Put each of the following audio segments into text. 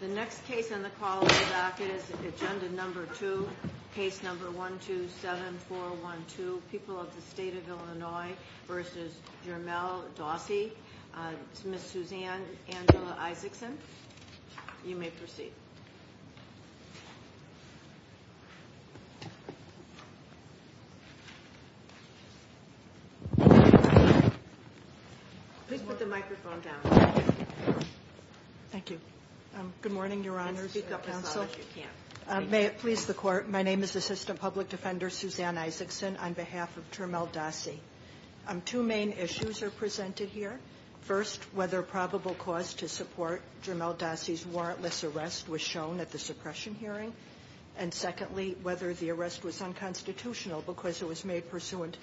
The next case on the call is agenda number two, case number 127412, People of the State of Illinois v. Jermell Dossie, Ms. Suzanne Angela Isaacson. You may proceed. Please put the microphone down. Thank you. Good morning, Your Honors. May it please the Court, my name is Assistant Public Defender Suzanne Isaacson on behalf of Jermell Dossie. Two main issues are presented here. First, whether probable cause to support Jermell Dossie's warrantless arrest was shown at the suppression hearing. And secondly, whether the arrest was unconstitutional because it was made pursuant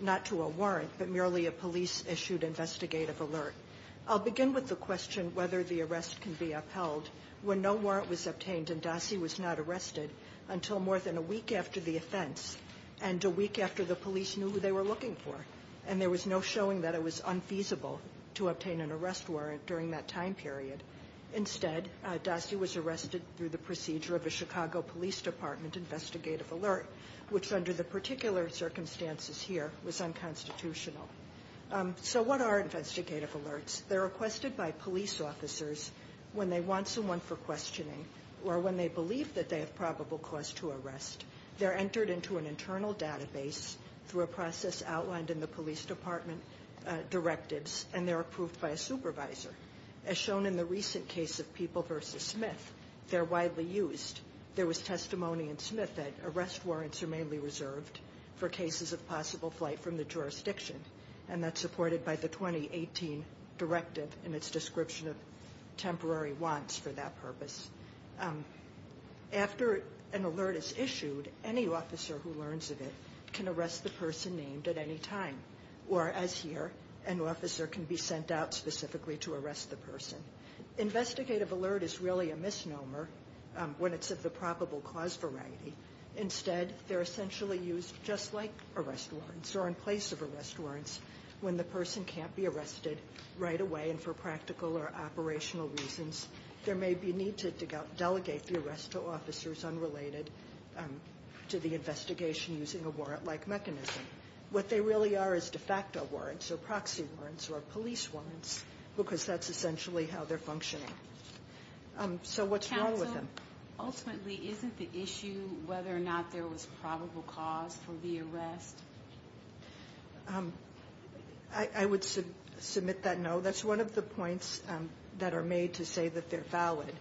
not to a warrant but merely a police-issued investigative alert. I'll begin with the question whether the arrest can be upheld when no warrant was obtained and Dossie was not arrested until more than a week after the offense and a week after the police knew who they were looking for. And there was no showing that it was unfeasible to obtain an arrest warrant during that time period. Instead, Dossie was arrested through the procedure of a Chicago Police Department investigative alert, which under the particular circumstances here was unconstitutional. So what are investigative alerts? They're requested by police officers when they want someone for questioning or when they believe that they have probable cause to arrest. They're entered into an internal database through a process outlined in the police department directives, and they're approved by a supervisor. As shown in the recent case of People v. Smith, they're widely used. There was testimony in Smith that arrest warrants are mainly reserved for cases of possible flight from the jurisdiction, and that's supported by the 2018 directive in its description of temporary wants for that purpose. After an alert is issued, any officer who learns of it can arrest the person named at any time, whereas here an officer can be sent out specifically to arrest the person. Investigative alert is really a misnomer when it's of the probable cause variety. Instead, they're essentially used just like arrest warrants or in place of arrest warrants when the person can't be arrested right away and for practical or operational reasons. There may be a need to delegate the arrest to officers unrelated to the investigation using a warrant-like mechanism. What they really are is de facto warrants or proxy warrants or police warrants because that's essentially how they're functioning. So what's wrong with them? Counsel, ultimately, isn't the issue whether or not there was probable cause for the arrest? I would submit that no. That's one of the points that are made to say that they're valid,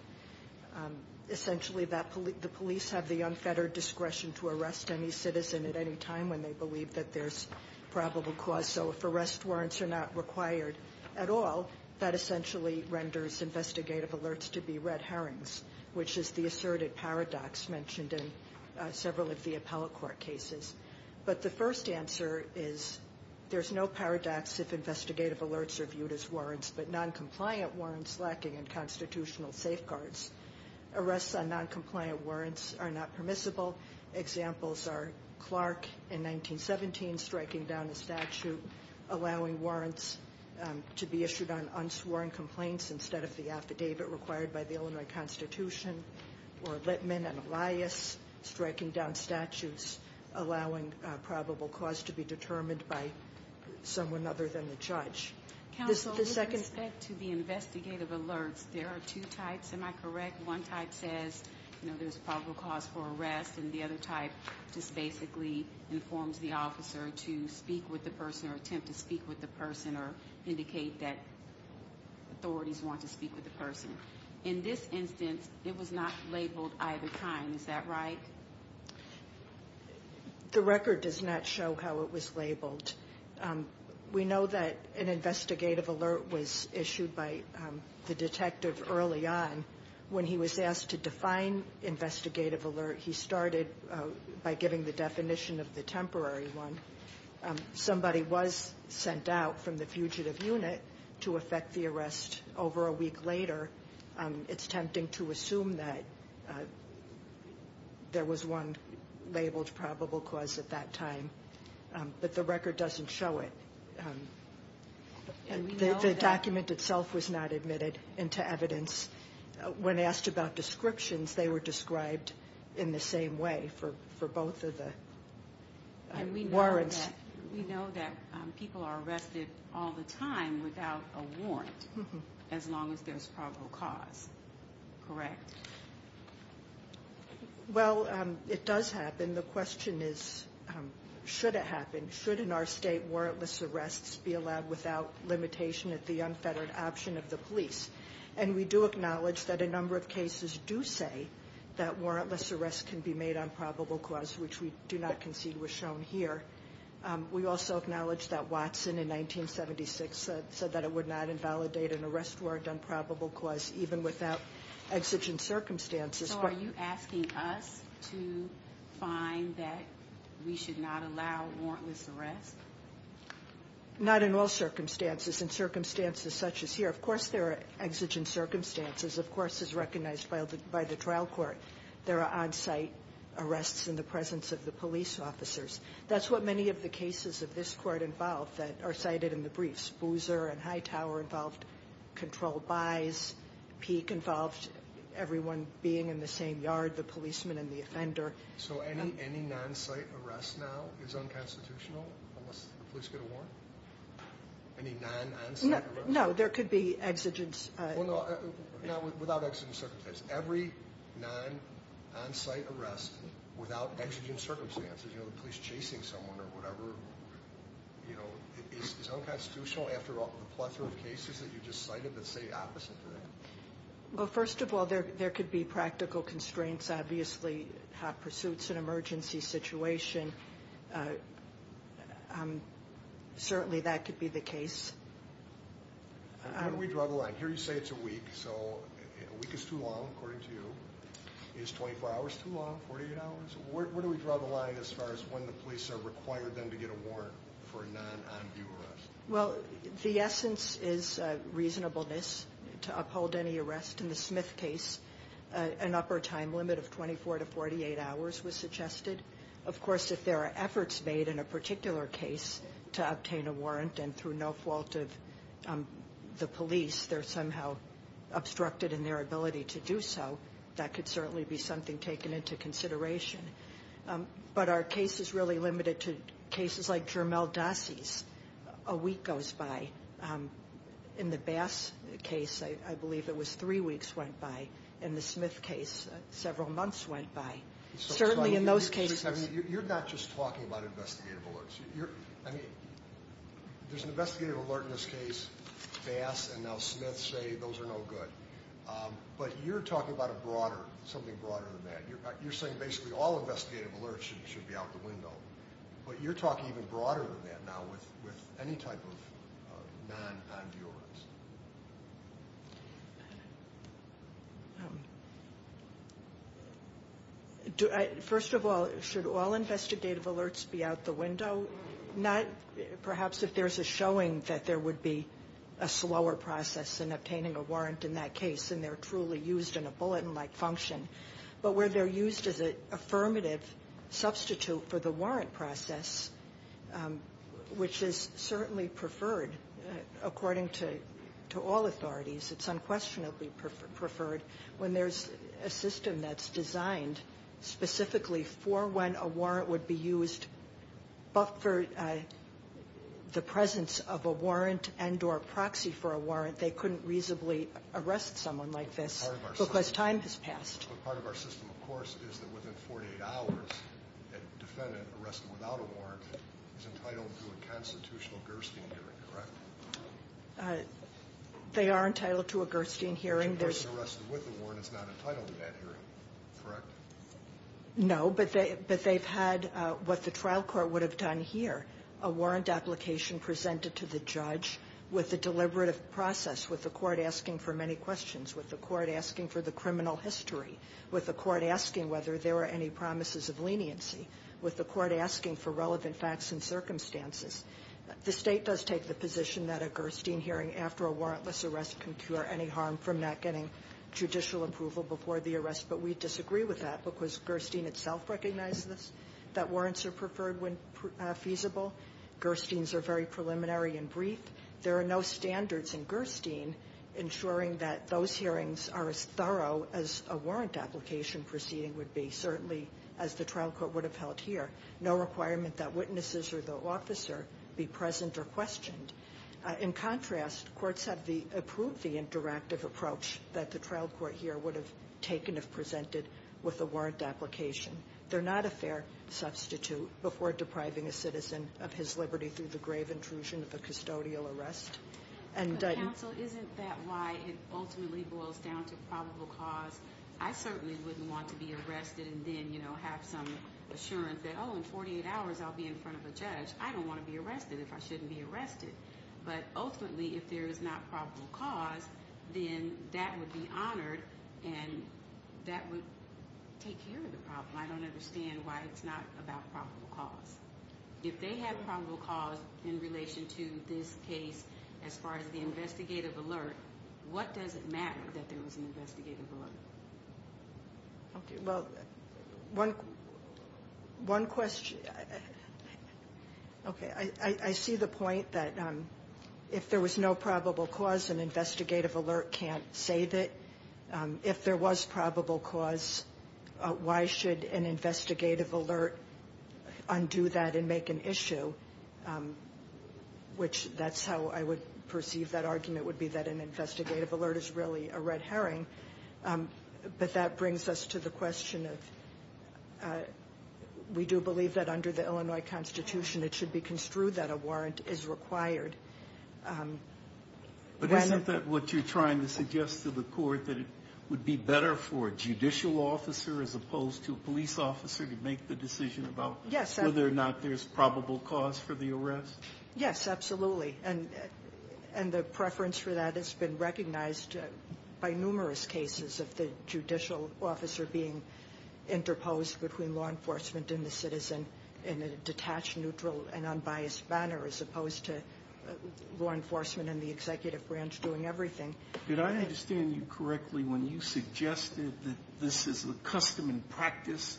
essentially that the police have the unfettered discretion to arrest any citizen at any time when they believe that there's probable cause. So if arrest warrants are not required at all, that essentially renders investigative alerts to be red herrings, which is the asserted paradox mentioned in several of the appellate court cases. But the first answer is there's no paradox if investigative alerts are viewed as warrants, but noncompliant warrants lacking in constitutional safeguards. Arrests on noncompliant warrants are not permissible. Examples are Clark in 1917 striking down a statute allowing warrants to be issued on unsworn complaints instead of the affidavit required by the Illinois Constitution, or Littman and Elias striking down statutes allowing probable cause to be determined by someone other than the judge. Counsel, with respect to the investigative alerts, there are two types. Am I correct? One type says there's probable cause for arrest, and the other type just basically informs the officer to speak with the person or attempt to speak with the person or indicate that authorities want to speak with the person. In this instance, it was not labeled either time. Is that right? The record does not show how it was labeled. We know that an investigative alert was issued by the detective early on. When he was asked to define investigative alert, he started by giving the definition of the temporary one. Somebody was sent out from the fugitive unit to effect the arrest over a week later. It's tempting to assume that there was one labeled probable cause at that time. But the record doesn't show it. The document itself was not admitted into evidence. When asked about descriptions, they were described in the same way for both of the warrants. We know that people are arrested all the time without a warrant, as long as there's probable cause. Correct? Well, it does happen. The question is, should it happen? Should, in our state, warrantless arrests be allowed without limitation at the unfettered option of the police? And we do acknowledge that a number of cases do say that warrantless arrests can be made on probable cause, which we do not concede was shown here. We also acknowledge that Watson, in 1976, said that it would not invalidate an arrest warrant on probable cause, even without exigent circumstances. So are you asking us to find that we should not allow warrantless arrests? Not in all circumstances. In circumstances such as here, of course there are exigent circumstances. Of course, as recognized by the trial court, there are on-site arrests in the presence of the police officers. That's what many of the cases of this court involve that are cited in the briefs. Boozer and Hightower involved controlled buys. Peek involved everyone being in the same yard, the policeman and the offender. So any non-site arrest now is unconstitutional unless the police get a warrant? Any non-on-site arrests? No, there could be exigent. Well, no, without exigent circumstances. Every non-on-site arrest without exigent circumstances, you know, the police chasing someone or whatever, you know, is unconstitutional after the plethora of cases that you just cited that say the opposite to that? Well, first of all, there could be practical constraints. Obviously, hot pursuits, an emergency situation, certainly that could be the case. How do we draw the line? Here you say it's a week, so a week is too long, according to you. Is 24 hours too long, 48 hours? Where do we draw the line as far as when the police are required then to get a warrant for a non-on-view arrest? Well, the essence is reasonableness to uphold any arrest. In the Smith case, an upper time limit of 24 to 48 hours was suggested. Of course, if there are efforts made in a particular case to obtain a warrant and through no fault of the police they're somehow obstructed in their ability to do so, that could certainly be something taken into consideration. But are cases really limited to cases like Jermel Dossi's, a week goes by. In the Bass case, I believe it was three weeks went by. In the Smith case, several months went by. Certainly in those cases. You're not just talking about investigative alerts. I mean, there's an investigative alert in this case, Bass, and now Smith say those are no good. But you're talking about something broader than that. You're saying basically all investigative alerts should be out the window. But you're talking even broader than that now with any type of non-on-view arrest. First of all, should all investigative alerts be out the window? Perhaps if there's a showing that there would be a slower process in obtaining a warrant in that case and they're truly used in a bulletin-like function, but where they're used as an affirmative substitute for the warrant process, which is certainly preferred according to all authorities. It's unquestionably preferred when there's a system that's designed specifically for when a warrant would be used but for the presence of a warrant and or proxy for a warrant. They couldn't reasonably arrest someone like this because time has passed. But part of our system, of course, is that within 48 hours, a defendant arrested without a warrant is entitled to a constitutional Gerstein hearing, correct? They are entitled to a Gerstein hearing. A person arrested with a warrant is not entitled to that hearing, correct? No, but they've had what the trial court would have done here, a warrant application presented to the judge with a deliberative process, with the court asking for many questions, with the court asking for the criminal history, with the court asking whether there were any promises of leniency, with the court asking for relevant facts and circumstances. The State does take the position that a Gerstein hearing after a warrantless arrest can cure any harm from not getting judicial approval before the arrest, but we disagree with that because Gerstein itself recognizes that warrants are preferred when feasible. Gersteins are very preliminary and brief. There are no standards in Gerstein ensuring that those hearings are as thorough as a warrant application proceeding would be, certainly as the trial court would have held here. No requirement that witnesses or the officer be present or questioned. In contrast, courts have approved the interactive approach that the trial court here would have taken if presented with a warrant application. They're not a fair substitute before depriving a citizen of his liberty through the grave intrusion of a custodial arrest. Counsel, isn't that why it ultimately boils down to probable cause? I certainly wouldn't want to be arrested and then have some assurance that, oh, in 48 hours I'll be in front of a judge. I don't want to be arrested if I shouldn't be arrested. But ultimately, if there is not probable cause, then that would be honored and that would take care of the problem. I don't understand why it's not about probable cause. If they have probable cause in relation to this case as far as the investigative alert, what does it matter that there was an investigative alert? Okay. Well, one question. Okay. I see the point that if there was no probable cause, an investigative alert can't save it. If there was probable cause, why should an investigative alert undo that and make an issue, which that's how I would perceive that argument, would be that an investigative alert is really a red herring. But that brings us to the question of we do believe that under the Illinois Constitution it should be construed that a warrant is required. But isn't that what you're trying to suggest to the Court, that it would be better for a judicial officer as opposed to a police officer to make the decision about whether or not there's probable cause for the arrest? Yes, absolutely. And the preference for that has been recognized by numerous cases of the judicial officer being interposed between law enforcement and the citizen in a detached, neutral, and unbiased manner as opposed to law enforcement and the executive branch doing everything. Did I understand you correctly when you suggested that this is a custom and practice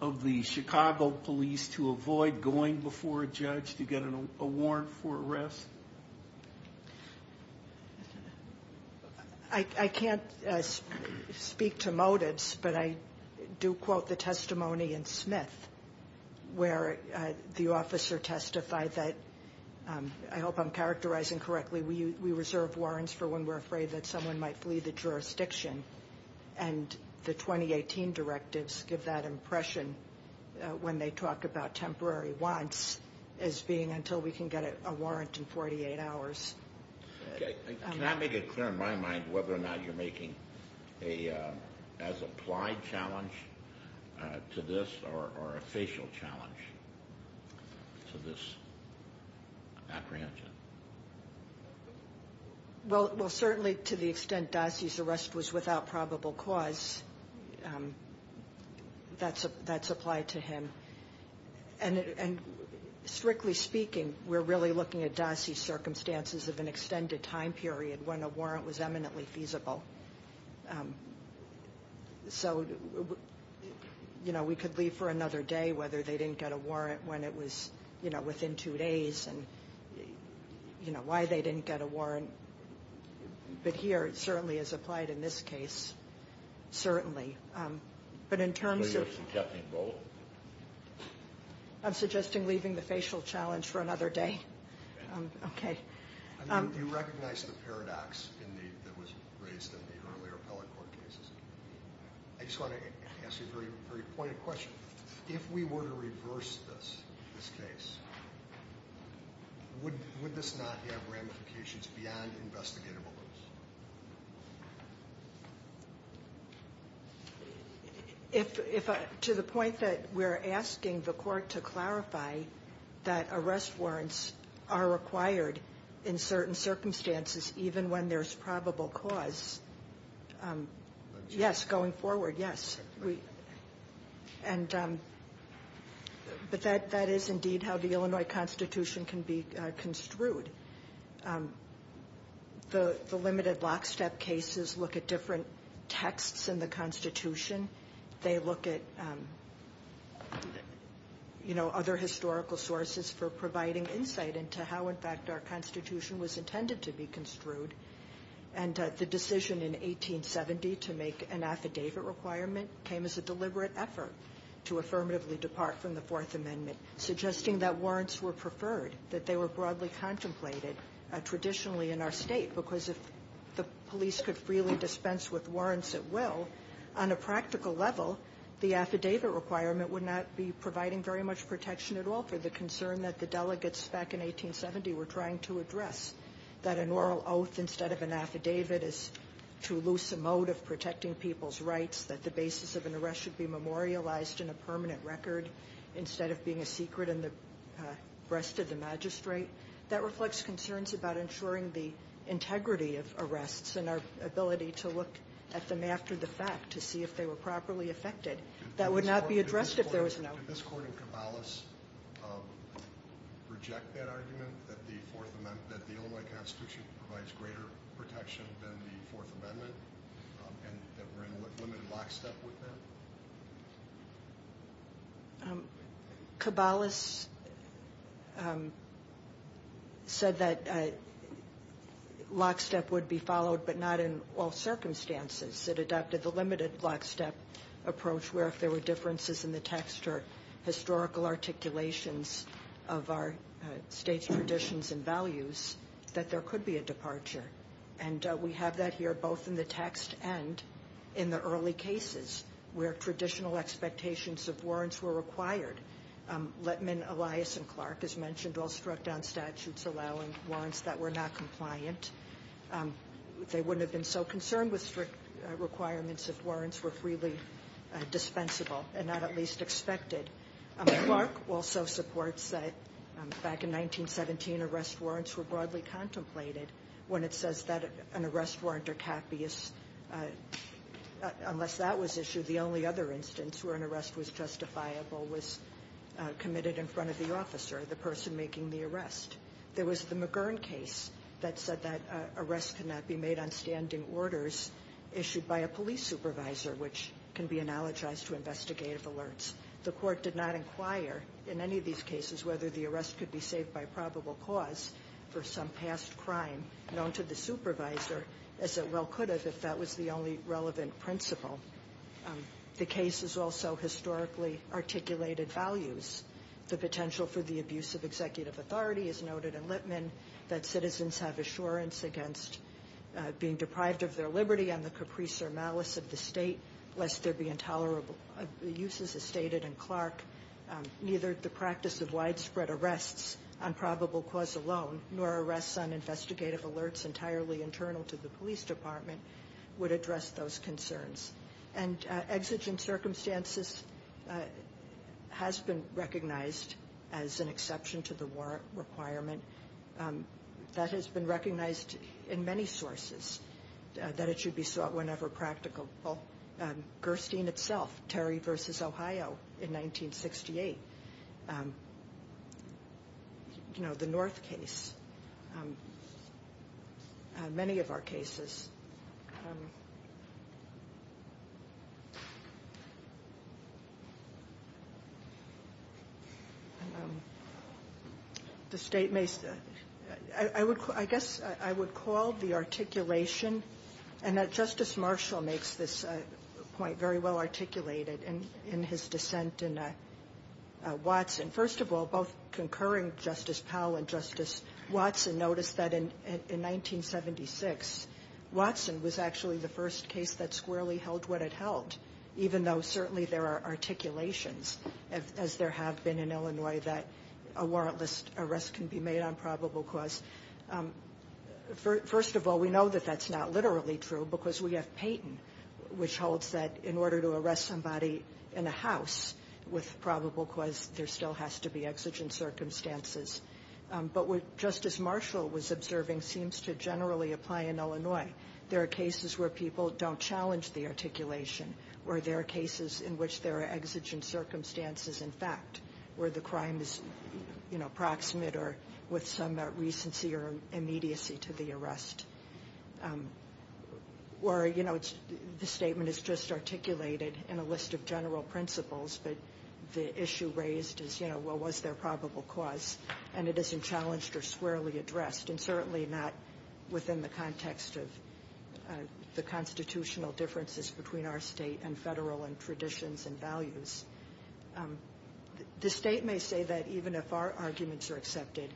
of the Chicago police to avoid going before a judge to get a warrant for arrest? I can't speak to motives, but I do quote the testimony in Smith where the officer testified that, I hope I'm characterizing correctly, we reserve warrants for when we're afraid that someone might flee the jurisdiction. And the 2018 directives give that impression when they talk about temporary wants as being until we can get a warrant in 48 hours. Can I make it clear in my mind whether or not you're making an as-applied challenge to this or a facial challenge to this apprehension? Well, certainly to the extent Dossi's arrest was without probable cause, that's applied to him. And strictly speaking, we're really looking at Dossi's circumstances of an extended time period when a warrant was eminently feasible. So, you know, we could leave for another day whether they didn't get a warrant when it was, you know, within two days and, you know, why they didn't get a warrant. But here, it certainly is applied in this case. Certainly. But in terms of... I'm suggesting leaving the facial challenge for another day. Okay. You recognize the paradox that was raised in the earlier appellate court cases. I just want to ask you a very pointed question. If we were to reverse this, this case, would this not have ramifications beyond investigative limits? To the point that we're asking the court to clarify that arrest warrants are required in certain circumstances even when there's probable cause, yes, going forward, yes. And... But that is indeed how the Illinois Constitution can be construed. The limited lockstep cases look at different texts in the Constitution. They look at, you know, other historical sources for providing insight into how, in fact, our Constitution was intended to be construed. And the decision in 1870 to make an affidavit requirement came as a deliberate effort to affirmatively depart from the Fourth Amendment, suggesting that warrants were preferred, that they were broadly contemplated traditionally in our state because if the police could freely dispense with warrants at will, on a practical level, the affidavit requirement would not be providing very much protection at all for the concern that the delegates back in 1870 were trying to address, that an oral oath instead of an affidavit is too loose a mode of protecting people's rights, that the basis of an arrest should be memorialized in a permanent record instead of being a secret in the breast of the magistrate. That reflects concerns about ensuring the integrity of arrests and our ability to look at them after the fact to see if they were properly effected. That would not be addressed if there was no... Did this Court and Caballos reject that argument that the Illinois Constitution provides greater protection than the Fourth Amendment and that we're in limited lockstep with that? Caballos said that lockstep would be followed, but not in all circumstances. It adopted the limited lockstep approach, where if there were differences in the text or historical articulations of our state's traditions and values, that there could be a departure. And we have that here both in the text and in the early cases where traditional expectations of warrants were required. Letman, Elias, and Clark, as mentioned, all struck down statutes allowing warrants that were not compliant. They wouldn't have been so concerned with strict requirements if warrants were freely dispensable and not at least expected. Clark also supports that back in 1917, arrest warrants were broadly contemplated when it says that an arrest warrant or capia, unless that was issued, the only other instance where an arrest was justifiable was committed in front of the officer, the person making the arrest. There was the McGurn case that said that arrests could not be made on standing orders issued by a police supervisor, which can be analogized to investigative alerts. The court did not inquire in any of these cases whether the arrest could be saved by probable cause for some past crime known to the supervisor, as it well could have, if that was the only relevant principle. The cases also historically articulated values. The potential for the abuse of executive authority is noted in Litman, that citizens have assurance against being deprived of their liberty on the caprice or malice of the state lest there be intolerable uses, as stated in Clark. Neither the practice of widespread arrests on probable cause alone, nor arrests on investigative alerts entirely internal to the police department, would address those concerns. And exigent circumstances has been recognized as an exception to the warrant requirement. That has been recognized in many sources, that it should be sought whenever practical. Gerstein itself, Terry v. Ohio in 1968, the North case, many of our cases. The state may, I guess I would call the articulation, and that Justice Marshall makes this point very well articulated in his dissent in Watson. First of all, both concurring Justice Powell and Justice Watson noticed that in 1976, Watson was actually the first case that squarely held what it held, even though certainly there are articulations, as there have been in Illinois, that a warrantless arrest can be made on probable cause. First of all, we know that that's not literally true because we have Payton, which holds that in order to arrest somebody in a house with probable cause, there still has to be exigent circumstances. But what Justice Marshall was observing seems to generally apply in Illinois. There are cases where people don't challenge the articulation, or there are cases in which there are exigent circumstances in fact, where the crime is proximate or with some recency or immediacy to the arrest. Or, you know, the statement is just articulated in a list of general principles, but the issue raised is, you know, well, was there probable cause? And it isn't challenged or squarely addressed, and certainly not within the context of the constitutional differences between our state and federal and traditions and values. The state may say that even if our arguments are accepted,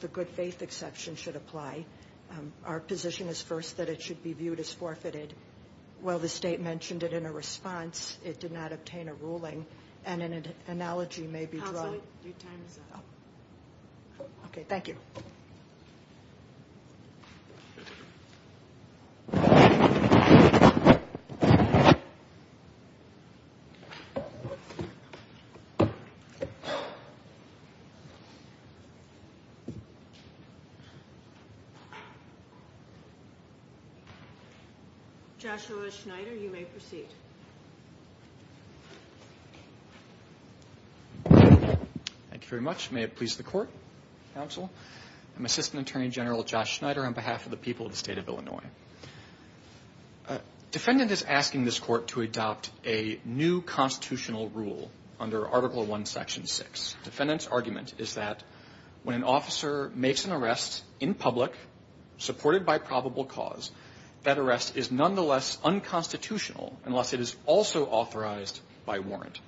the good faith exception should apply. Our position is first that it should be viewed as forfeited. While the state mentioned it in a response, it did not obtain a ruling, and an analogy may be drawn. Counsel, your time is up. Okay, thank you. Joshua Schneider, you may proceed. Thank you very much. May it please the Court, Counsel. I'm Assistant Attorney General Josh Schneider on behalf of the people of the state of Illinois. Defendant is asking this Court to adopt a new constitutional rule under Article I, Section 6. Defendant's argument is that when an officer makes an arrest in public supported by probable cause, that arrest is nonetheless unconstitutional unless it is also authorized by warrant.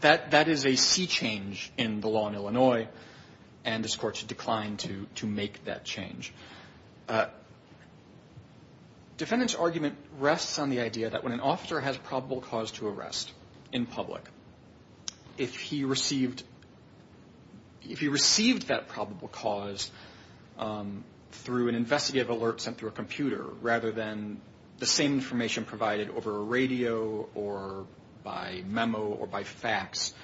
That is a sea change in the law in Illinois, and this Court should decline to make that change. Defendant's argument rests on the idea that when an officer has probable cause to arrest in public, if he received that probable cause through an investigative alert sent through a computer rather than the same information provided over a radio or by memo or by fax,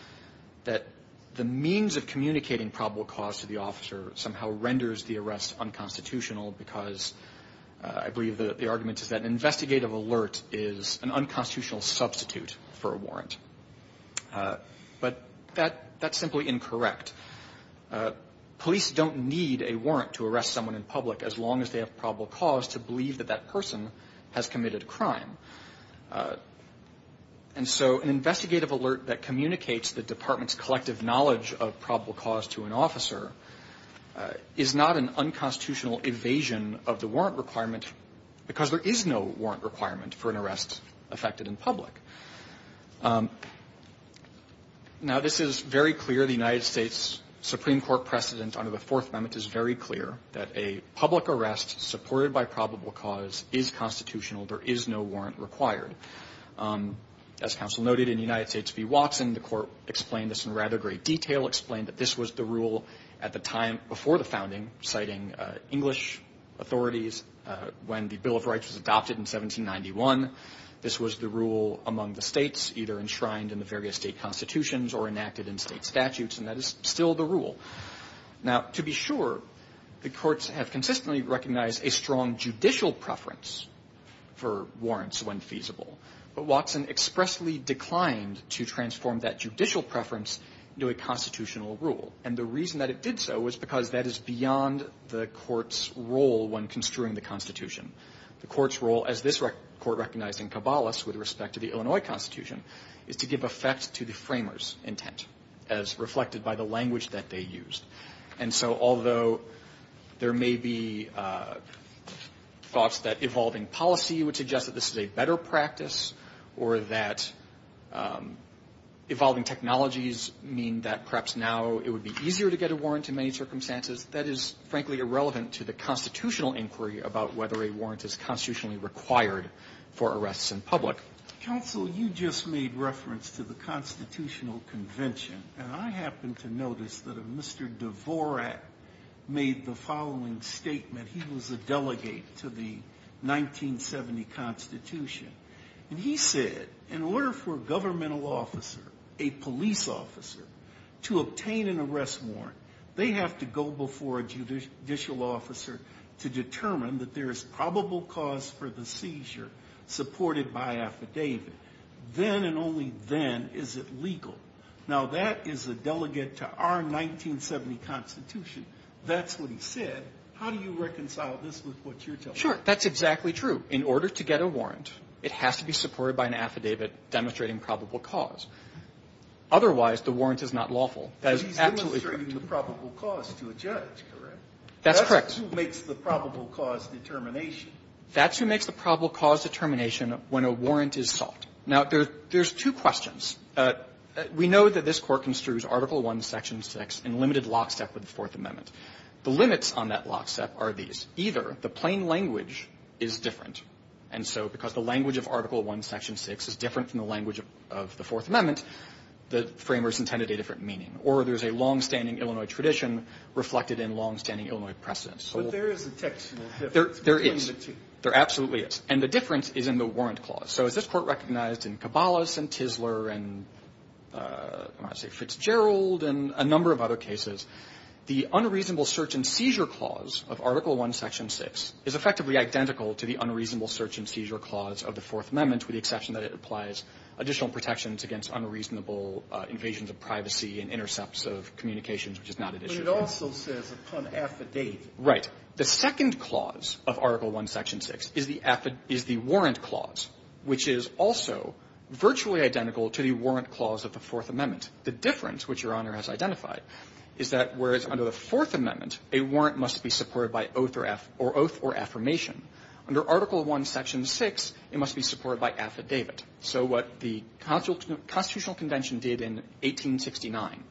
that the means of communicating probable cause to the officer somehow renders the arrest unconstitutional because I believe the argument is that an investigative alert is an unconstitutional substitute for a warrant. But that's simply incorrect. Police don't need a warrant to arrest someone in public as long as they have probable cause to believe that that person has committed a crime. And so an investigative alert that communicates the department's collective knowledge of probable cause to an officer is not an unconstitutional evasion of the warrant requirement because there is no warrant requirement for an arrest affected in public. Now, this is very clear. The United States Supreme Court precedent under the Fourth Amendment is very clear that a public arrest supported by probable cause is constitutional. There is no warrant required. As counsel noted, in the United States v. Watson, the court explained this in rather great detail, explained that this was the rule at the time before the founding, citing English authorities when the Bill of Rights was adopted in 1791. This was the rule among the states either enshrined in the various state constitutions or enacted in state statutes, and that is still the rule. Now, to be sure, the courts have consistently recognized a strong judicial preference for warrants when feasible, but Watson expressly declined to transform that judicial preference into a constitutional rule. And the reason that it did so was because that is beyond the court's role when construing the Constitution. The court's role, as this court recognized in Caballas with respect to the Illinois Constitution, is to give effect to the framers' intent as reflected by the language that they used. And so although there may be thoughts that evolving policy would suggest that this is a better practice or that evolving technologies mean that perhaps now it would be easier to get a warrant in many circumstances, that is, frankly, irrelevant to the constitutional inquiry about whether a warrant is constitutionally required for arrests in public. Counsel, you just made reference to the Constitutional Convention, and I happen to notice that if Mr. Dvorak made the following statement, he was a delegate to the 1970 Constitution, and he said, in order for a governmental officer, a police officer, to obtain an arrest warrant, they have to go before a judicial officer to determine that there is probable cause for the seizure supported by affidavit. Then and only then is it legal. Now, that is a delegate to our 1970 Constitution. That's what he said. How do you reconcile this with what you're telling me? Sure. That's exactly true. In order to get a warrant, it has to be supported by an affidavit demonstrating probable cause. Otherwise, the warrant is not lawful. That is absolutely correct. But he's demonstrating the probable cause to a judge, correct? That's correct. That's who makes the probable cause determination. That's who makes the probable cause determination when a warrant is sought. Now, there's two questions. We know that this Court construes Article I, Section 6 in limited lockstep with the Fourth Amendment. The limits on that lockstep are these. Either the plain language is different, and so because the language of Article I, Section 6 is different from the language of the Fourth Amendment, the framers intended a different meaning, or there's a longstanding Illinois tradition reflected in longstanding Illinois precedents. But there is a textual difference. There is. There absolutely is. And the difference is in the warrant clause. So as this Court recognized in Cabalas and Tisler and I want to say Fitzgerald and a number of other cases, the unreasonable search and seizure clause of Article I, Section 6 is effectively identical to the unreasonable search and seizure clause of the Fourth Amendment with the exception that it applies additional protections against unreasonable invasions of privacy and intercepts of communications, which is not an issue. But it also says upon affidavit. Right. The second clause of Article I, Section 6 is the warrant clause, which is also virtually identical to the warrant clause of the Fourth Amendment. The difference, which Your Honor has identified, is that whereas under the Fourth Amendment, a warrant must be supported by oath or affirmation, under Article I, Section 6, it must be supported by affidavit. So what the Constitutional Convention did in 1869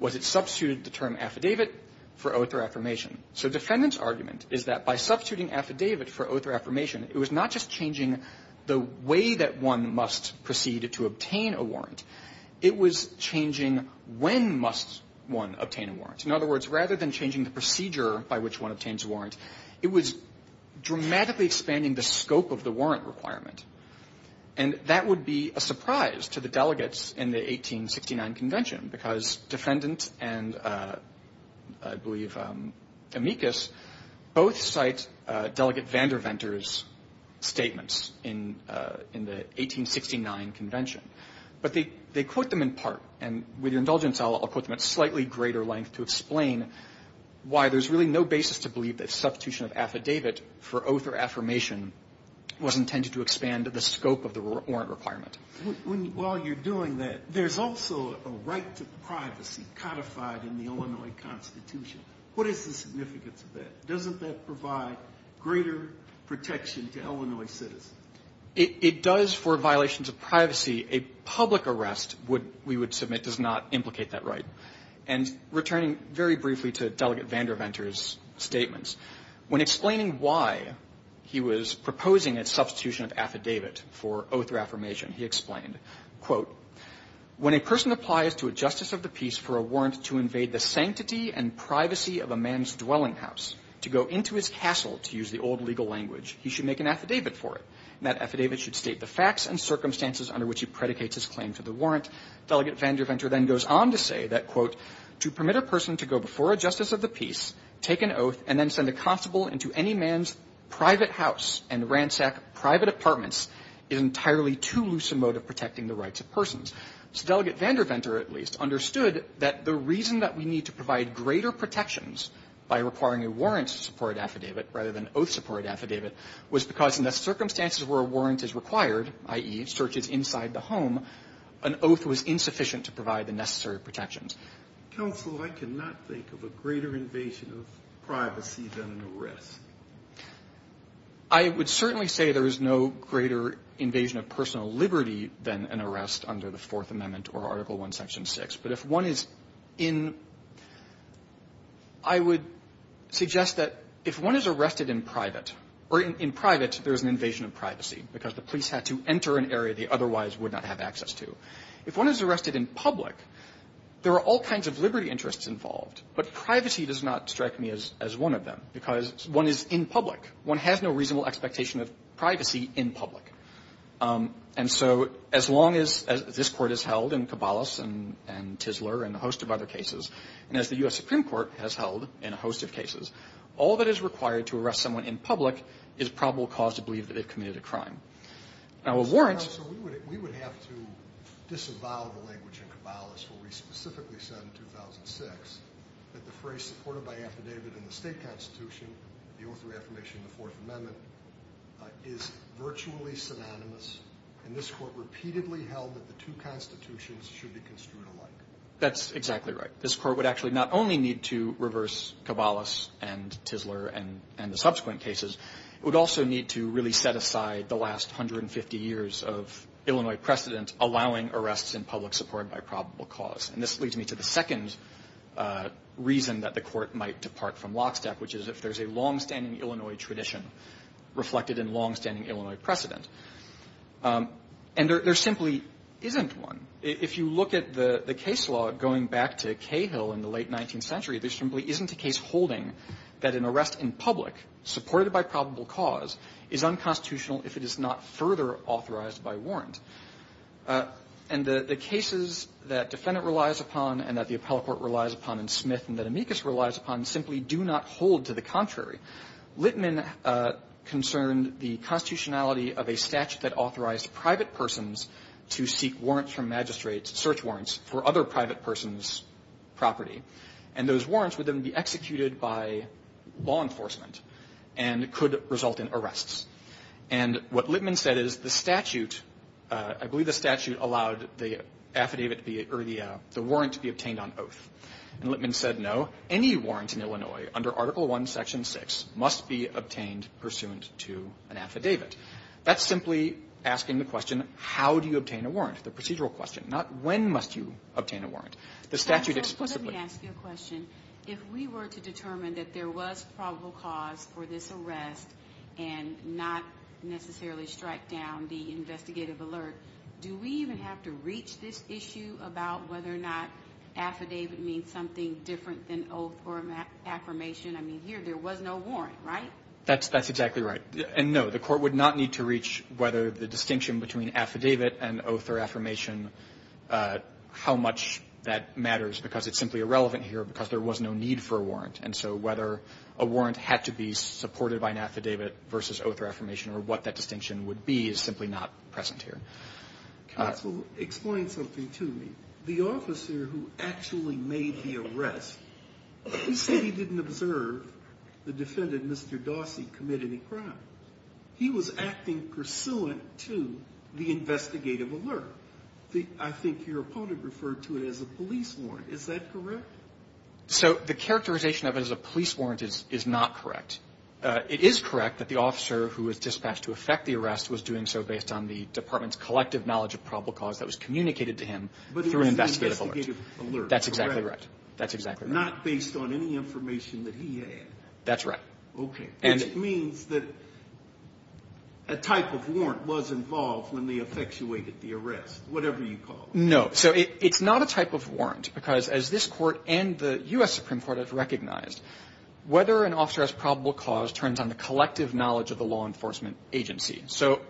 was it substituted the term affidavit for oath or affirmation. So defendants' argument is that by substituting affidavit for oath or affirmation, it was not just changing the way that one must proceed to obtain a warrant, it was changing when must one obtain a warrant. In other words, rather than changing the procedure by which one obtains a warrant, it was dramatically expanding the scope of the warrant requirement. And that would be a surprise to the delegates in the 1869 Convention, because defendant and, I believe, amicus, both cite Delegate Vanderventer's statements in the 1869 Convention. But they quote them in part. And with your indulgence, I'll quote them at slightly greater length to explain why there's really no basis to believe that substitution of affidavit for oath or affirmation was intended to expand the scope of the warrant requirement. While you're doing that, there's also a right to privacy codified in the Illinois Constitution. What is the significance of that? Doesn't that provide greater protection to Illinois citizens? It does for violations of privacy. A public arrest, we would submit, does not implicate that right. And returning very briefly to Delegate Vanderventer's statements, when explaining why he was proposing a substitution of affidavit for oath or affirmation, he explained, quote, When a person applies to a justice of the peace for a warrant to invade the sanctity and privacy of a man's dwelling house, to go into his castle, to use the old legal language, he should make an affidavit for it. And that affidavit should state the facts and circumstances under which he predicates his claim to the warrant. Delegate Vanderventer then goes on to say that, quote, To permit a person to go before a justice of the peace, take an oath, and then send a constable into any man's private house and ransack private apartments is entirely too loose a mode of protecting the rights of persons. So Delegate Vanderventer, at least, understood that the reason that we need to provide greater protections by requiring a warrant-supported affidavit rather than oath-supported affidavit was because in the circumstances where a warrant is required, i.e., searches inside the home, an oath was insufficient to provide the necessary protections. Kennedy. Counsel, I cannot think of a greater invasion of privacy than an arrest. I would certainly say there is no greater invasion of personal liberty than an arrest under the Fourth Amendment or Article I, Section 6. But if one is in – I would suggest that if one is arrested in private, or in private, there is an invasion of privacy because the police had to enter an area they otherwise would not have access to. If one is arrested in public, there are all kinds of liberty interests involved, but privacy does not strike me as one of them because one is in public. One has no reasonable expectation of privacy in public. And so as long as this Court has held in Caballos and Tisler and a host of other cases, and as the U.S. Supreme Court has held in a host of cases, all that is required to arrest someone in public is probable cause to believe that they've committed a crime. Now, a warrant – Counsel, we would have to disavow the language in Caballos where we specifically said in 2006 that the phrase supported by affidavit in the State Constitution, the oath of affirmation in the Fourth Amendment, is virtually synonymous. And this Court repeatedly held that the two constitutions should be construed alike. That's exactly right. This Court would actually not only need to reverse Caballos and Tisler and the subsequent cases, it would also need to really set aside the last 150 years of Illinois precedent allowing arrests in public supported by probable cause. And this leads me to the second reason that the Court might depart from lockstep, which is if there's a longstanding Illinois tradition reflected in longstanding Illinois precedent. And there simply isn't one. If you look at the case law going back to Cahill in the late 19th century, there is a case law that states that a warrant supported by probable cause is unconstitutional if it is not further authorized by warrant. And the cases that defendant relies upon and that the appellate court relies upon and Smith and that Amicus relies upon simply do not hold to the contrary. Littman concerned the constitutionality of a statute that authorized private persons to seek warrants from magistrates, search warrants for other private persons' property. And those warrants would then be executed by law enforcement and could result in arrests. And what Littman said is the statute, I believe the statute allowed the affidavit or the warrant to be obtained on oath. And Littman said, no, any warrant in Illinois under Article I, Section 6, must be obtained pursuant to an affidavit. That's simply asking the question, how do you obtain a warrant, the procedural question, not when must you obtain a warrant. The statute explicitly. Let me ask you a question. If we were to determine that there was probable cause for this arrest and not necessarily strike down the investigative alert, do we even have to reach this issue about whether or not affidavit means something different than oath or affirmation? I mean, here there was no warrant, right? That's exactly right. And, no, the court would not need to reach whether the distinction between affidavit and oath or affirmation, how much that matters, because it's simply irrelevant here because there was no need for a warrant. And so whether a warrant had to be supported by an affidavit versus oath or affirmation or what that distinction would be is simply not present here. Counsel, explain something to me. The officer who actually made the arrest, he said he didn't observe the defendant, Mr. Dawsey, commit any crime. He was acting pursuant to the investigative alert. I think your opponent referred to it as a police warrant. Is that correct? So the characterization of it as a police warrant is not correct. It is correct that the officer who was dispatched to effect the arrest was doing so based on the department's collective knowledge of probable cause that was communicated to him through an investigative alert. But it was an investigative alert, correct? That's exactly right. That's exactly right. Not based on any information that he had. That's right. Okay. And it means that a type of warrant was involved when they effectuated the arrest, whatever you call it. No. So it's not a type of warrant because as this Court and the U.S. Supreme Court have recognized, whether an officer has probable cause turns on the collective knowledge of the law enforcement agency. So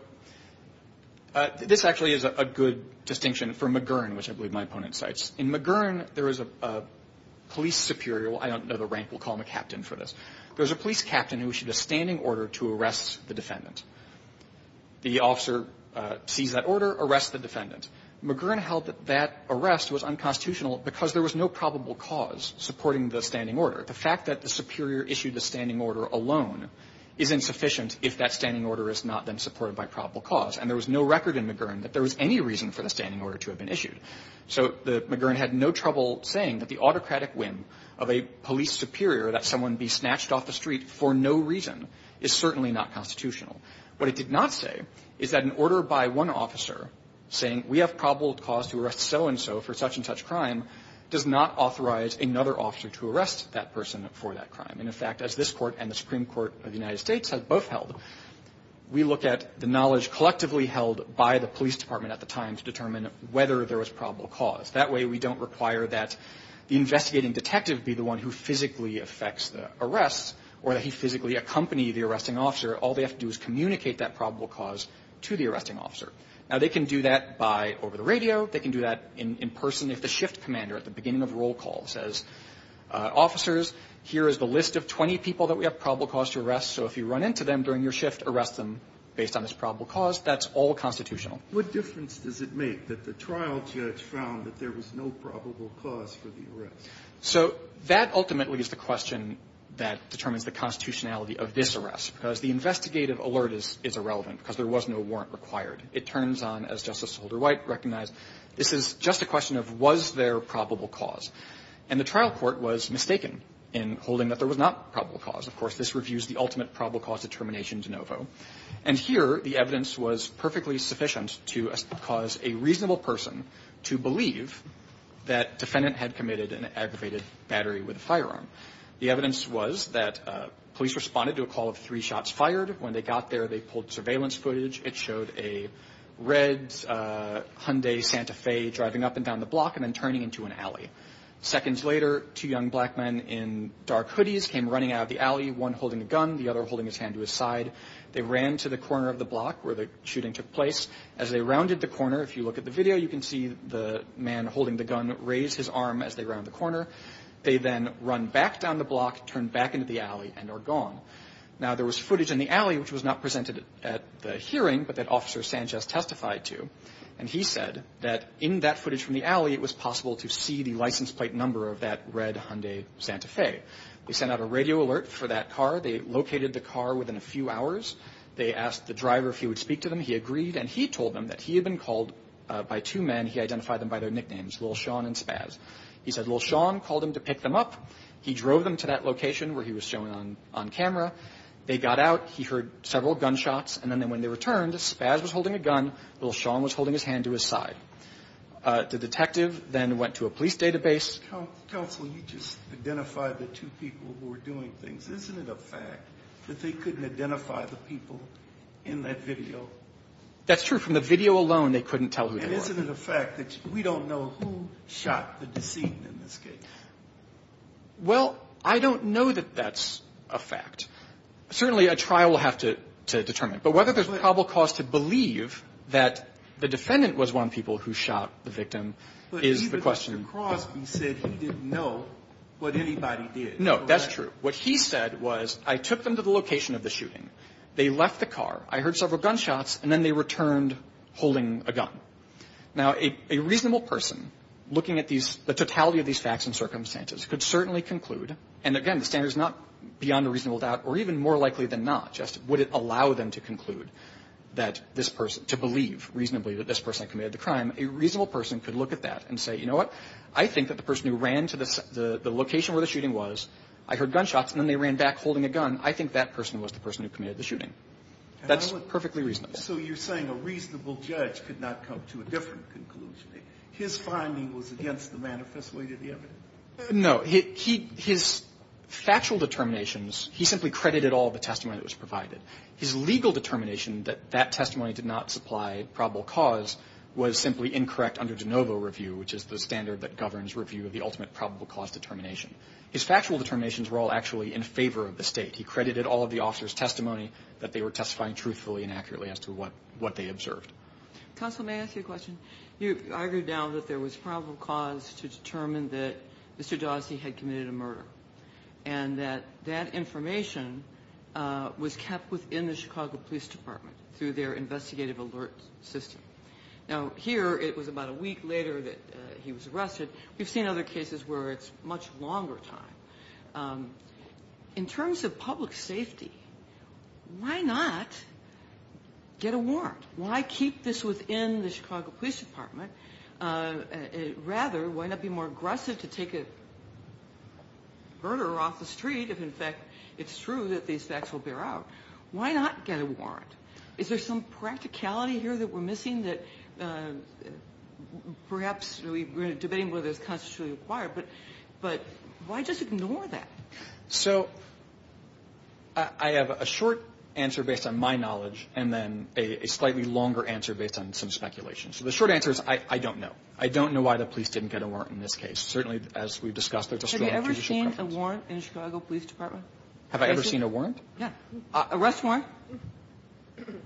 this actually is a good distinction for McGurn, which I believe my opponent cites. In McGurn, there is a police superior. I don't know the rank. We'll call him a captain for this. There's a police captain who issued a standing order to arrest the defendant. The officer sees that order, arrests the defendant. McGurn held that that arrest was unconstitutional because there was no probable cause supporting the standing order. The fact that the superior issued the standing order alone is insufficient if that standing order is not then supported by probable cause. And there was no record in McGurn that there was any reason for the standing order to have been issued. So McGurn had no trouble saying that the autocratic whim of a police superior that someone be snatched off the street for no reason is certainly not constitutional. What it did not say is that an order by one officer saying we have probable cause to arrest so-and-so for such-and-such crime does not authorize another officer to arrest that person for that crime. And, in fact, as this Court and the Supreme Court of the United States have both held, we look at the knowledge collectively held by the police department at the time to determine whether there was probable cause. That way, we don't require that the investigating detective be the one who physically affects the arrest or that he physically accompany the arresting officer. All they have to do is communicate that probable cause to the arresting officer. Now, they can do that by over the radio. They can do that in person if the shift commander at the beginning of roll call says officers, here is the list of 20 people that we have probable cause to arrest. So if you run into them during your shift, arrest them based on this probable cause. That's all constitutional. What difference does it make that the trial judge found that there was no probable cause for the arrest? So that ultimately is the question that determines the constitutionality of this arrest, because the investigative alert is irrelevant because there was no warrant required. It turns on, as Justice Holder-White recognized, this is just a question of was there probable cause. And the trial court was mistaken in holding that there was not probable cause. Of course, this reviews the ultimate probable cause determination de novo. And here, the evidence was perfectly sufficient to cause a reasonable person to believe that defendant had committed an aggravated battery with a firearm. The evidence was that police responded to a call of three shots fired. When they got there, they pulled surveillance footage. It showed a red Hyundai Santa Fe driving up and down the block and then turning into an alley. Seconds later, two young black men in dark hoodies came running out of the alley, one holding a gun, the other holding his hand to his side. They ran to the corner of the block where the shooting took place. As they rounded the corner, if you look at the video, you can see the man holding the gun raise his arm as they round the corner. They then run back down the block, turn back into the alley, and are gone. Now, there was footage in the alley which was not presented at the hearing, but that Officer Sanchez testified to. And he said that in that footage from the alley, it was possible to see the license plate number of that red Hyundai Santa Fe. They sent out a radio alert for that car. They located the car within a few hours. They asked the driver if he would speak to them. He agreed, and he told them that he had been called by two men. He identified them by their nicknames, Lil' Sean and Spaz. He said Lil' Sean called him to pick them up. He drove them to that location where he was shown on camera. They got out. He heard several gunshots. And then when they returned, Spaz was holding a gun. Lil' Sean was holding his hand to his side. The detective then went to a police database. Counsel, you just identified the two people who were doing things. Isn't it a fact that they couldn't identify the people in that video? That's true. From the video alone, they couldn't tell who they were. And isn't it a fact that we don't know who shot the decedent in this case? Well, I don't know that that's a fact. Certainly, a trial will have to determine it. But whether there's probable cause to believe that the defendant was one of the people who shot the victim is the question. But even Mr. Crosby said he didn't know what anybody did. No, that's true. What he said was, I took them to the location of the shooting. They left the car. I heard several gunshots. And then they returned holding a gun. Now, a reasonable person looking at the totality of these facts and circumstances could certainly conclude, and, again, the standard is not beyond a reasonable doubt or even more likely than not just would it allow them to conclude that this person to believe reasonably that this person committed the crime, a reasonable person could look at that and say, you know what? I think that the person who ran to the location where the shooting was, I heard gunshots, and then they ran back holding a gun, I think that person was the person who committed the shooting. That's perfectly reasonable. So you're saying a reasonable judge could not come to a different conclusion? His finding was against the manifest way to the evidence? No. His factual determinations, he simply credited all the testimony that was provided. His legal determination that that testimony did not supply probable cause was simply incorrect under de novo review, which is the standard that governs review of the ultimate probable cause determination. His factual determinations were all actually in favor of the State. He credited all of the officers' testimony that they were testifying truthfully and accurately as to what they observed. Counsel, may I ask you a question? You argued now that there was probable cause to determine that Mr. Dawsey had committed a murder and that that information was kept within the Chicago Police Department through their investigative alert system. Now, here it was about a week later that he was arrested. We've seen other cases where it's a much longer time. In terms of public safety, why not get a warrant? Why keep this within the Chicago Police Department? Rather, why not be more aggressive to take a murderer off the street if, in fact, it's true that these facts will bear out? Why not get a warrant? Is there some practicality here that we're missing that perhaps we're debating whether it's constitutionally required, but why just ignore that? So I have a short answer based on my knowledge and then a slightly longer answer based on some speculation. So the short answer is I don't know. I don't know why the police didn't get a warrant in this case. Certainly, as we've discussed, there's a strong judicial preference. Have you ever seen a warrant in the Chicago Police Department? Have I ever seen a warrant? Yeah. Arrest warrant?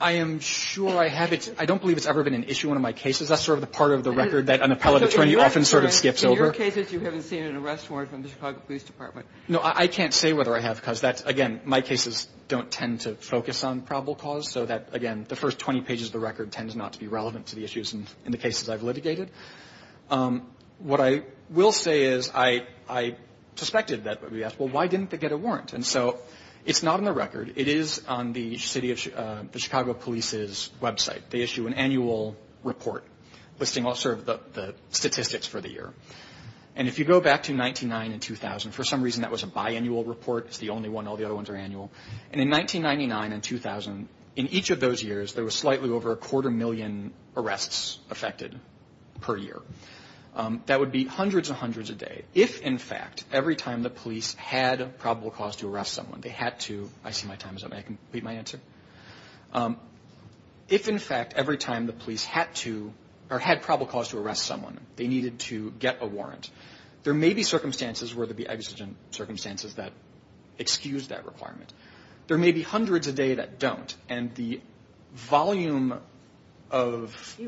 I am sure I have. I don't believe it's ever been an issue in one of my cases. That's sort of the part of the record that an appellate attorney often sort of skips over. So in your cases, you haven't seen an arrest warrant from the Chicago Police Department? No. I can't say whether I have because, again, my cases don't tend to focus on probable cause, so that, again, the first 20 pages of the record tend not to be relevant to the issues in the cases I've litigated. What I will say is I suspected that would be asked, well, why didn't they get a warrant? And so it's not in the record. It is on the Chicago Police's website. They issue an annual report listing all sort of the statistics for the year. And if you go back to 1999 and 2000, for some reason that was a biannual report. It's the only one. All the other ones are annual. And in 1999 and 2000, in each of those years, there was slightly over a quarter million arrests affected per year. That would be hundreds and hundreds a day if, in fact, every time the police had a probable cause to arrest someone, they needed to get a warrant. There may be circumstances where there would be exigent circumstances that excuse that requirement. There may be hundreds a day that don't. And the volume of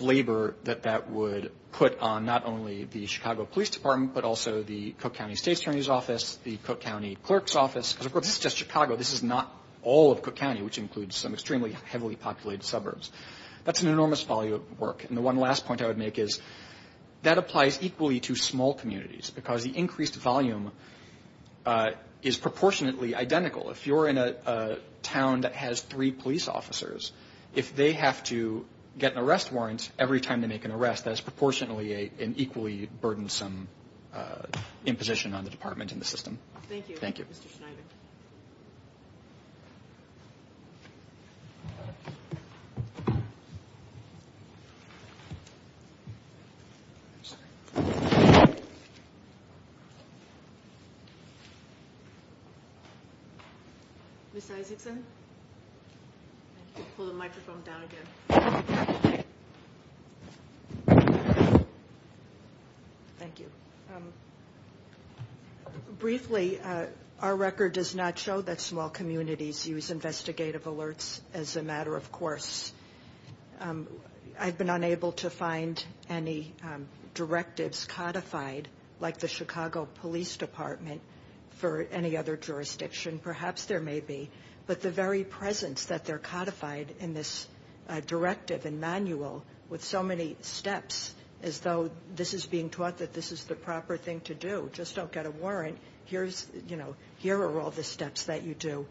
labor that that would put on not only the Chicago Police Office, because, of course, this is just Chicago. This is not all of Cook County, which includes some extremely heavily populated suburbs. That's an enormous volume of work. And the one last point I would make is that applies equally to small communities because the increased volume is proportionately identical. If you're in a town that has three police officers, if they have to get an arrest warrant every time they make an arrest, that's proportionately an equally burdensome imposition on the department and the system. Thank you. Thank you, Mr. Schneider. Ms. Isaacson? Pull the microphone down again. Thank you. Briefly, our record does not show that small communities use investigative alerts as a matter of course. I've been unable to find any directives codified, like the Chicago Police Department, for any other jurisdiction. Perhaps there may be. But the very presence that they're codified in this directive and manual with so many steps, as though this is being taught that this is the proper thing to do. Just don't get a warrant. Here are all the steps that you do.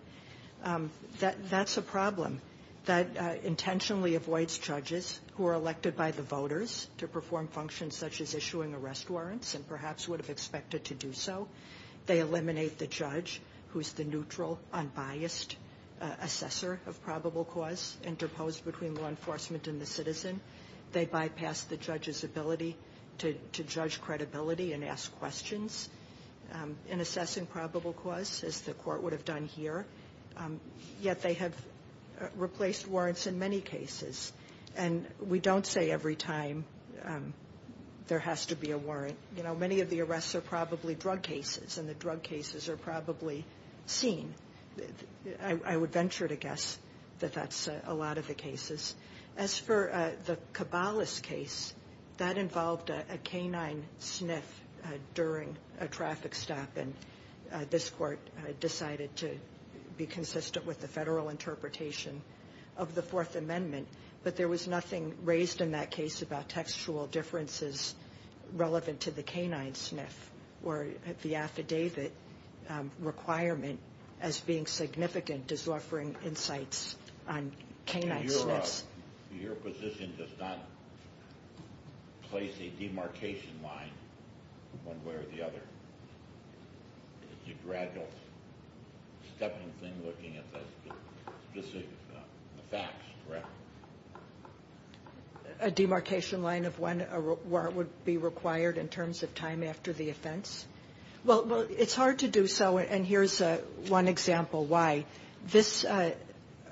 That's a problem that intentionally avoids judges who are elected by the voters to perform functions such as issuing arrest warrants and perhaps would have expected to do so. They eliminate the judge, who's the neutral, unbiased assessor of probable cause interposed between law enforcement and the citizen. They bypass the judge's ability to judge credibility and ask questions in assessing probable cause, as the court would have done here. Yet they have replaced warrants in many cases. And we don't say every time there has to be a warrant. Many of the arrests are probably drug cases, and the drug cases are probably seen. I would venture to guess that that's a lot of the cases. As for the Cabales case, that involved a canine sniff during a traffic stop, and this court decided to be consistent with the federal interpretation of the Fourth Amendment. But there was nothing raised in that case about textual differences relevant to the canine sniff or the affidavit requirement as being significant as offering insights on canine sniffs. Your position does not place a demarcation line one way or the other. It's a gradual stepping thing looking at the facts, correct? A demarcation line of when a warrant would be required in terms of time after the offense? Well, it's hard to do so, and here's one example why. This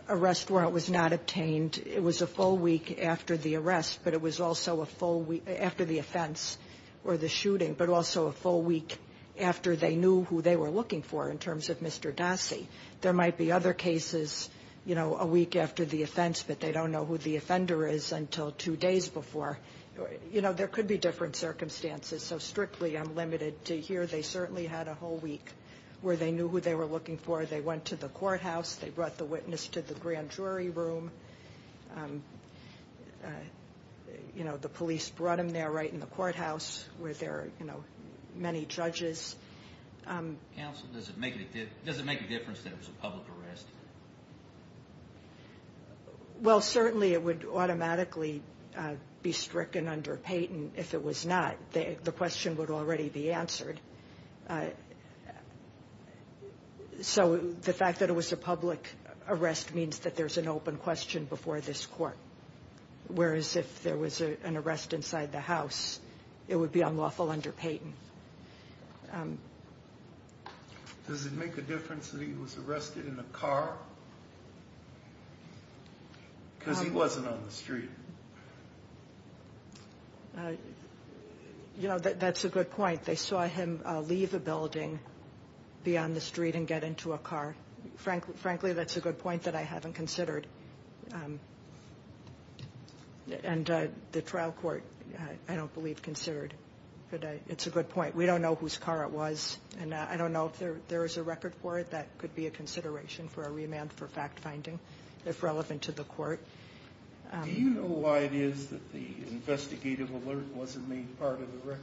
arrest warrant was not obtained. It was a full week after the arrest, but it was also a full week after the offense or the shooting, but also a full week after they knew who they were looking for in terms of Mr. Dassey. There might be other cases, you know, a week after the offense, but they don't know who the offender is until two days before. You know, there could be different circumstances, so strictly I'm limited to here. They certainly had a whole week where they knew who they were looking for. They went to the courthouse. They brought the witness to the grand jury room. You know, the police brought him there right in the courthouse where there are, you know, many judges. Counsel, does it make a difference that it was a public arrest? Well, certainly it would automatically be stricken under Payton if it was not. The question would already be answered. So the fact that it was a public arrest means that there's an open question before this court, whereas if there was an arrest inside the house, it would be unlawful under Payton. Does it make a difference that he was arrested in a car? Because he wasn't on the street. You know, that's a good point. They saw him leave a building, be on the street, and get into a car. Frankly, that's a good point that I haven't considered. And the trial court I don't believe considered. But it's a good point. We don't know whose car it was, and I don't know if there is a record for it. That could be a consideration for a remand for fact-finding, if relevant to the court. Do you know why it is that the investigative alert wasn't made part of the record?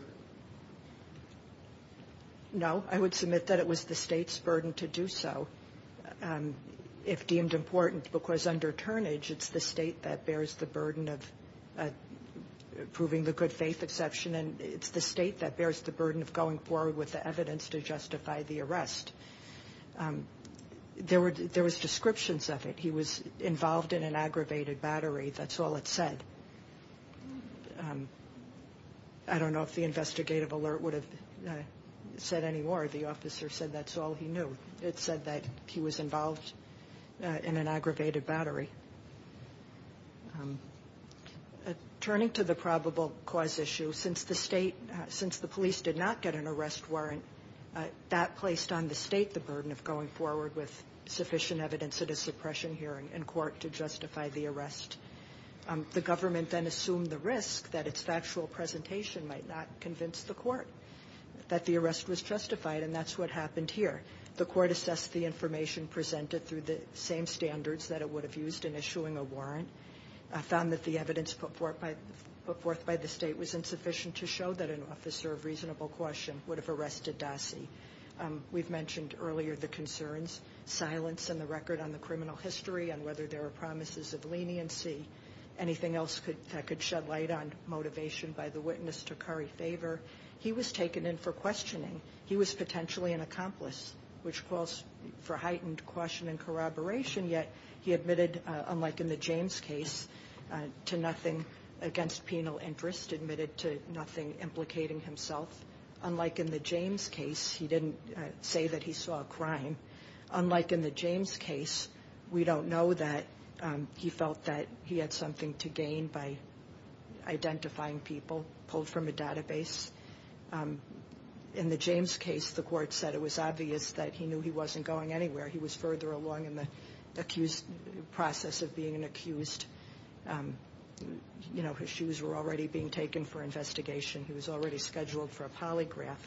No. I would submit that it was the state's burden to do so, if deemed important, because under turnage it's the state that bears the burden of proving the good faith exception, and it's the state that bears the burden of going forward with the evidence to justify the arrest. There was descriptions of it. He was involved in an aggravated battery. That's all it said. I don't know if the investigative alert would have said any more. The officer said that's all he knew. It said that he was involved in an aggravated battery. Turning to the probable cause issue, since the police did not get an arrest warrant, that placed on the state the burden of going forward with sufficient evidence at a suppression hearing in court to justify the arrest. The government then assumed the risk that its factual presentation might not convince the court that the arrest was justified, and that's what happened here. The court assessed the information presented through the same standards that it would have used in issuing a warrant, found that the evidence put forth by the state was insufficient to show that an officer of reasonable question would have arrested Dassey. We've mentioned earlier the concerns, silence in the record on the criminal history and whether there are promises of leniency, anything else that could shed light on motivation by the witness to curry favor. He was taken in for questioning. He was potentially an accomplice, which calls for heightened question and corroboration, yet he admitted, unlike in the James case, to nothing against penal interest, admitted to nothing implicating himself. Unlike in the James case, he didn't say that he saw a crime. Unlike in the James case, we don't know that he felt that he had something to gain by identifying people pulled from a database. In the James case, the court said it was obvious that he knew he wasn't going anywhere. He was further along in the process of being accused. You know, his shoes were already being taken for investigation. He was already scheduled for a polygraph.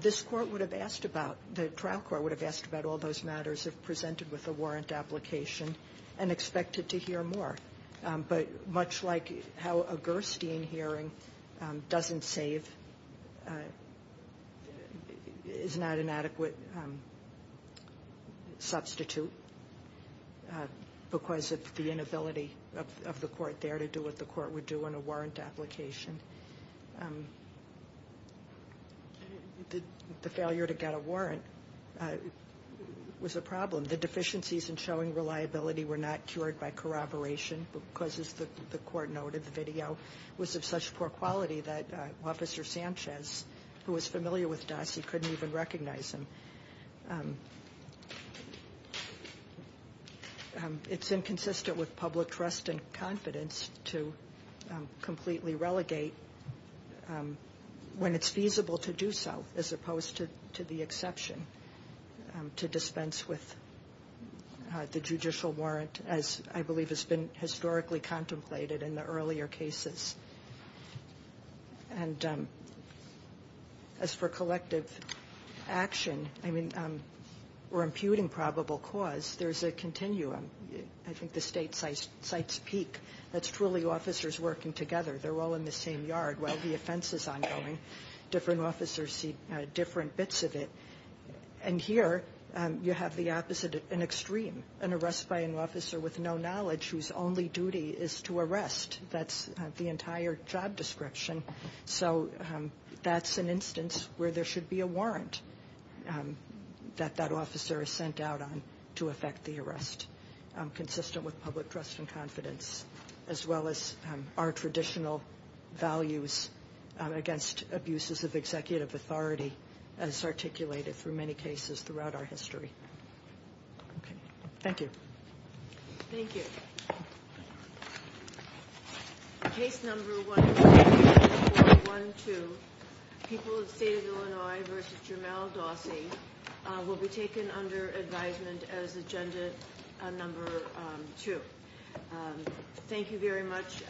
This court would have asked about, the trial court would have asked about all those matters if presented with a warrant application and expected to hear more. But much like how a Gerstein hearing doesn't save, is not an adequate substitute, because of the inability of the court there to do what the court would do in a warrant application. The failure to get a warrant was a problem. The deficiencies in showing reliability were not cured by corroboration, because, as the court noted, the video was of such poor quality that Officer Sanchez, who was familiar with Doss, he couldn't even recognize him. It's inconsistent with public trust and confidence to completely relegate when it's feasible to do so, as opposed to the exception to dispense with the judicial warrant, as I believe has been historically contemplated in the earlier cases. And as for collective action, I mean, we're imputing probable cause. There's a continuum. I think the State cites Peek. That's truly officers working together. They're all in the same yard while the offense is ongoing. Different officers see different bits of it. And here you have the opposite, an extreme, an arrest by an officer with no knowledge whose only duty is to arrest. That's the entire job description. So that's an instance where there should be a warrant that that officer is sent out on to effect the arrest. Consistent with public trust and confidence, as well as our traditional values against abuses of executive authority, as articulated through many cases throughout our history. Thank you. Thank you. Case number 1412, People of the State of Illinois v. Jemele Dawsey, will be taken under advisement as agenda number two. Thank you very much,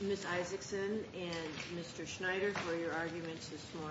Ms. Isaacson and Mr. Schneider, for your arguments this morning.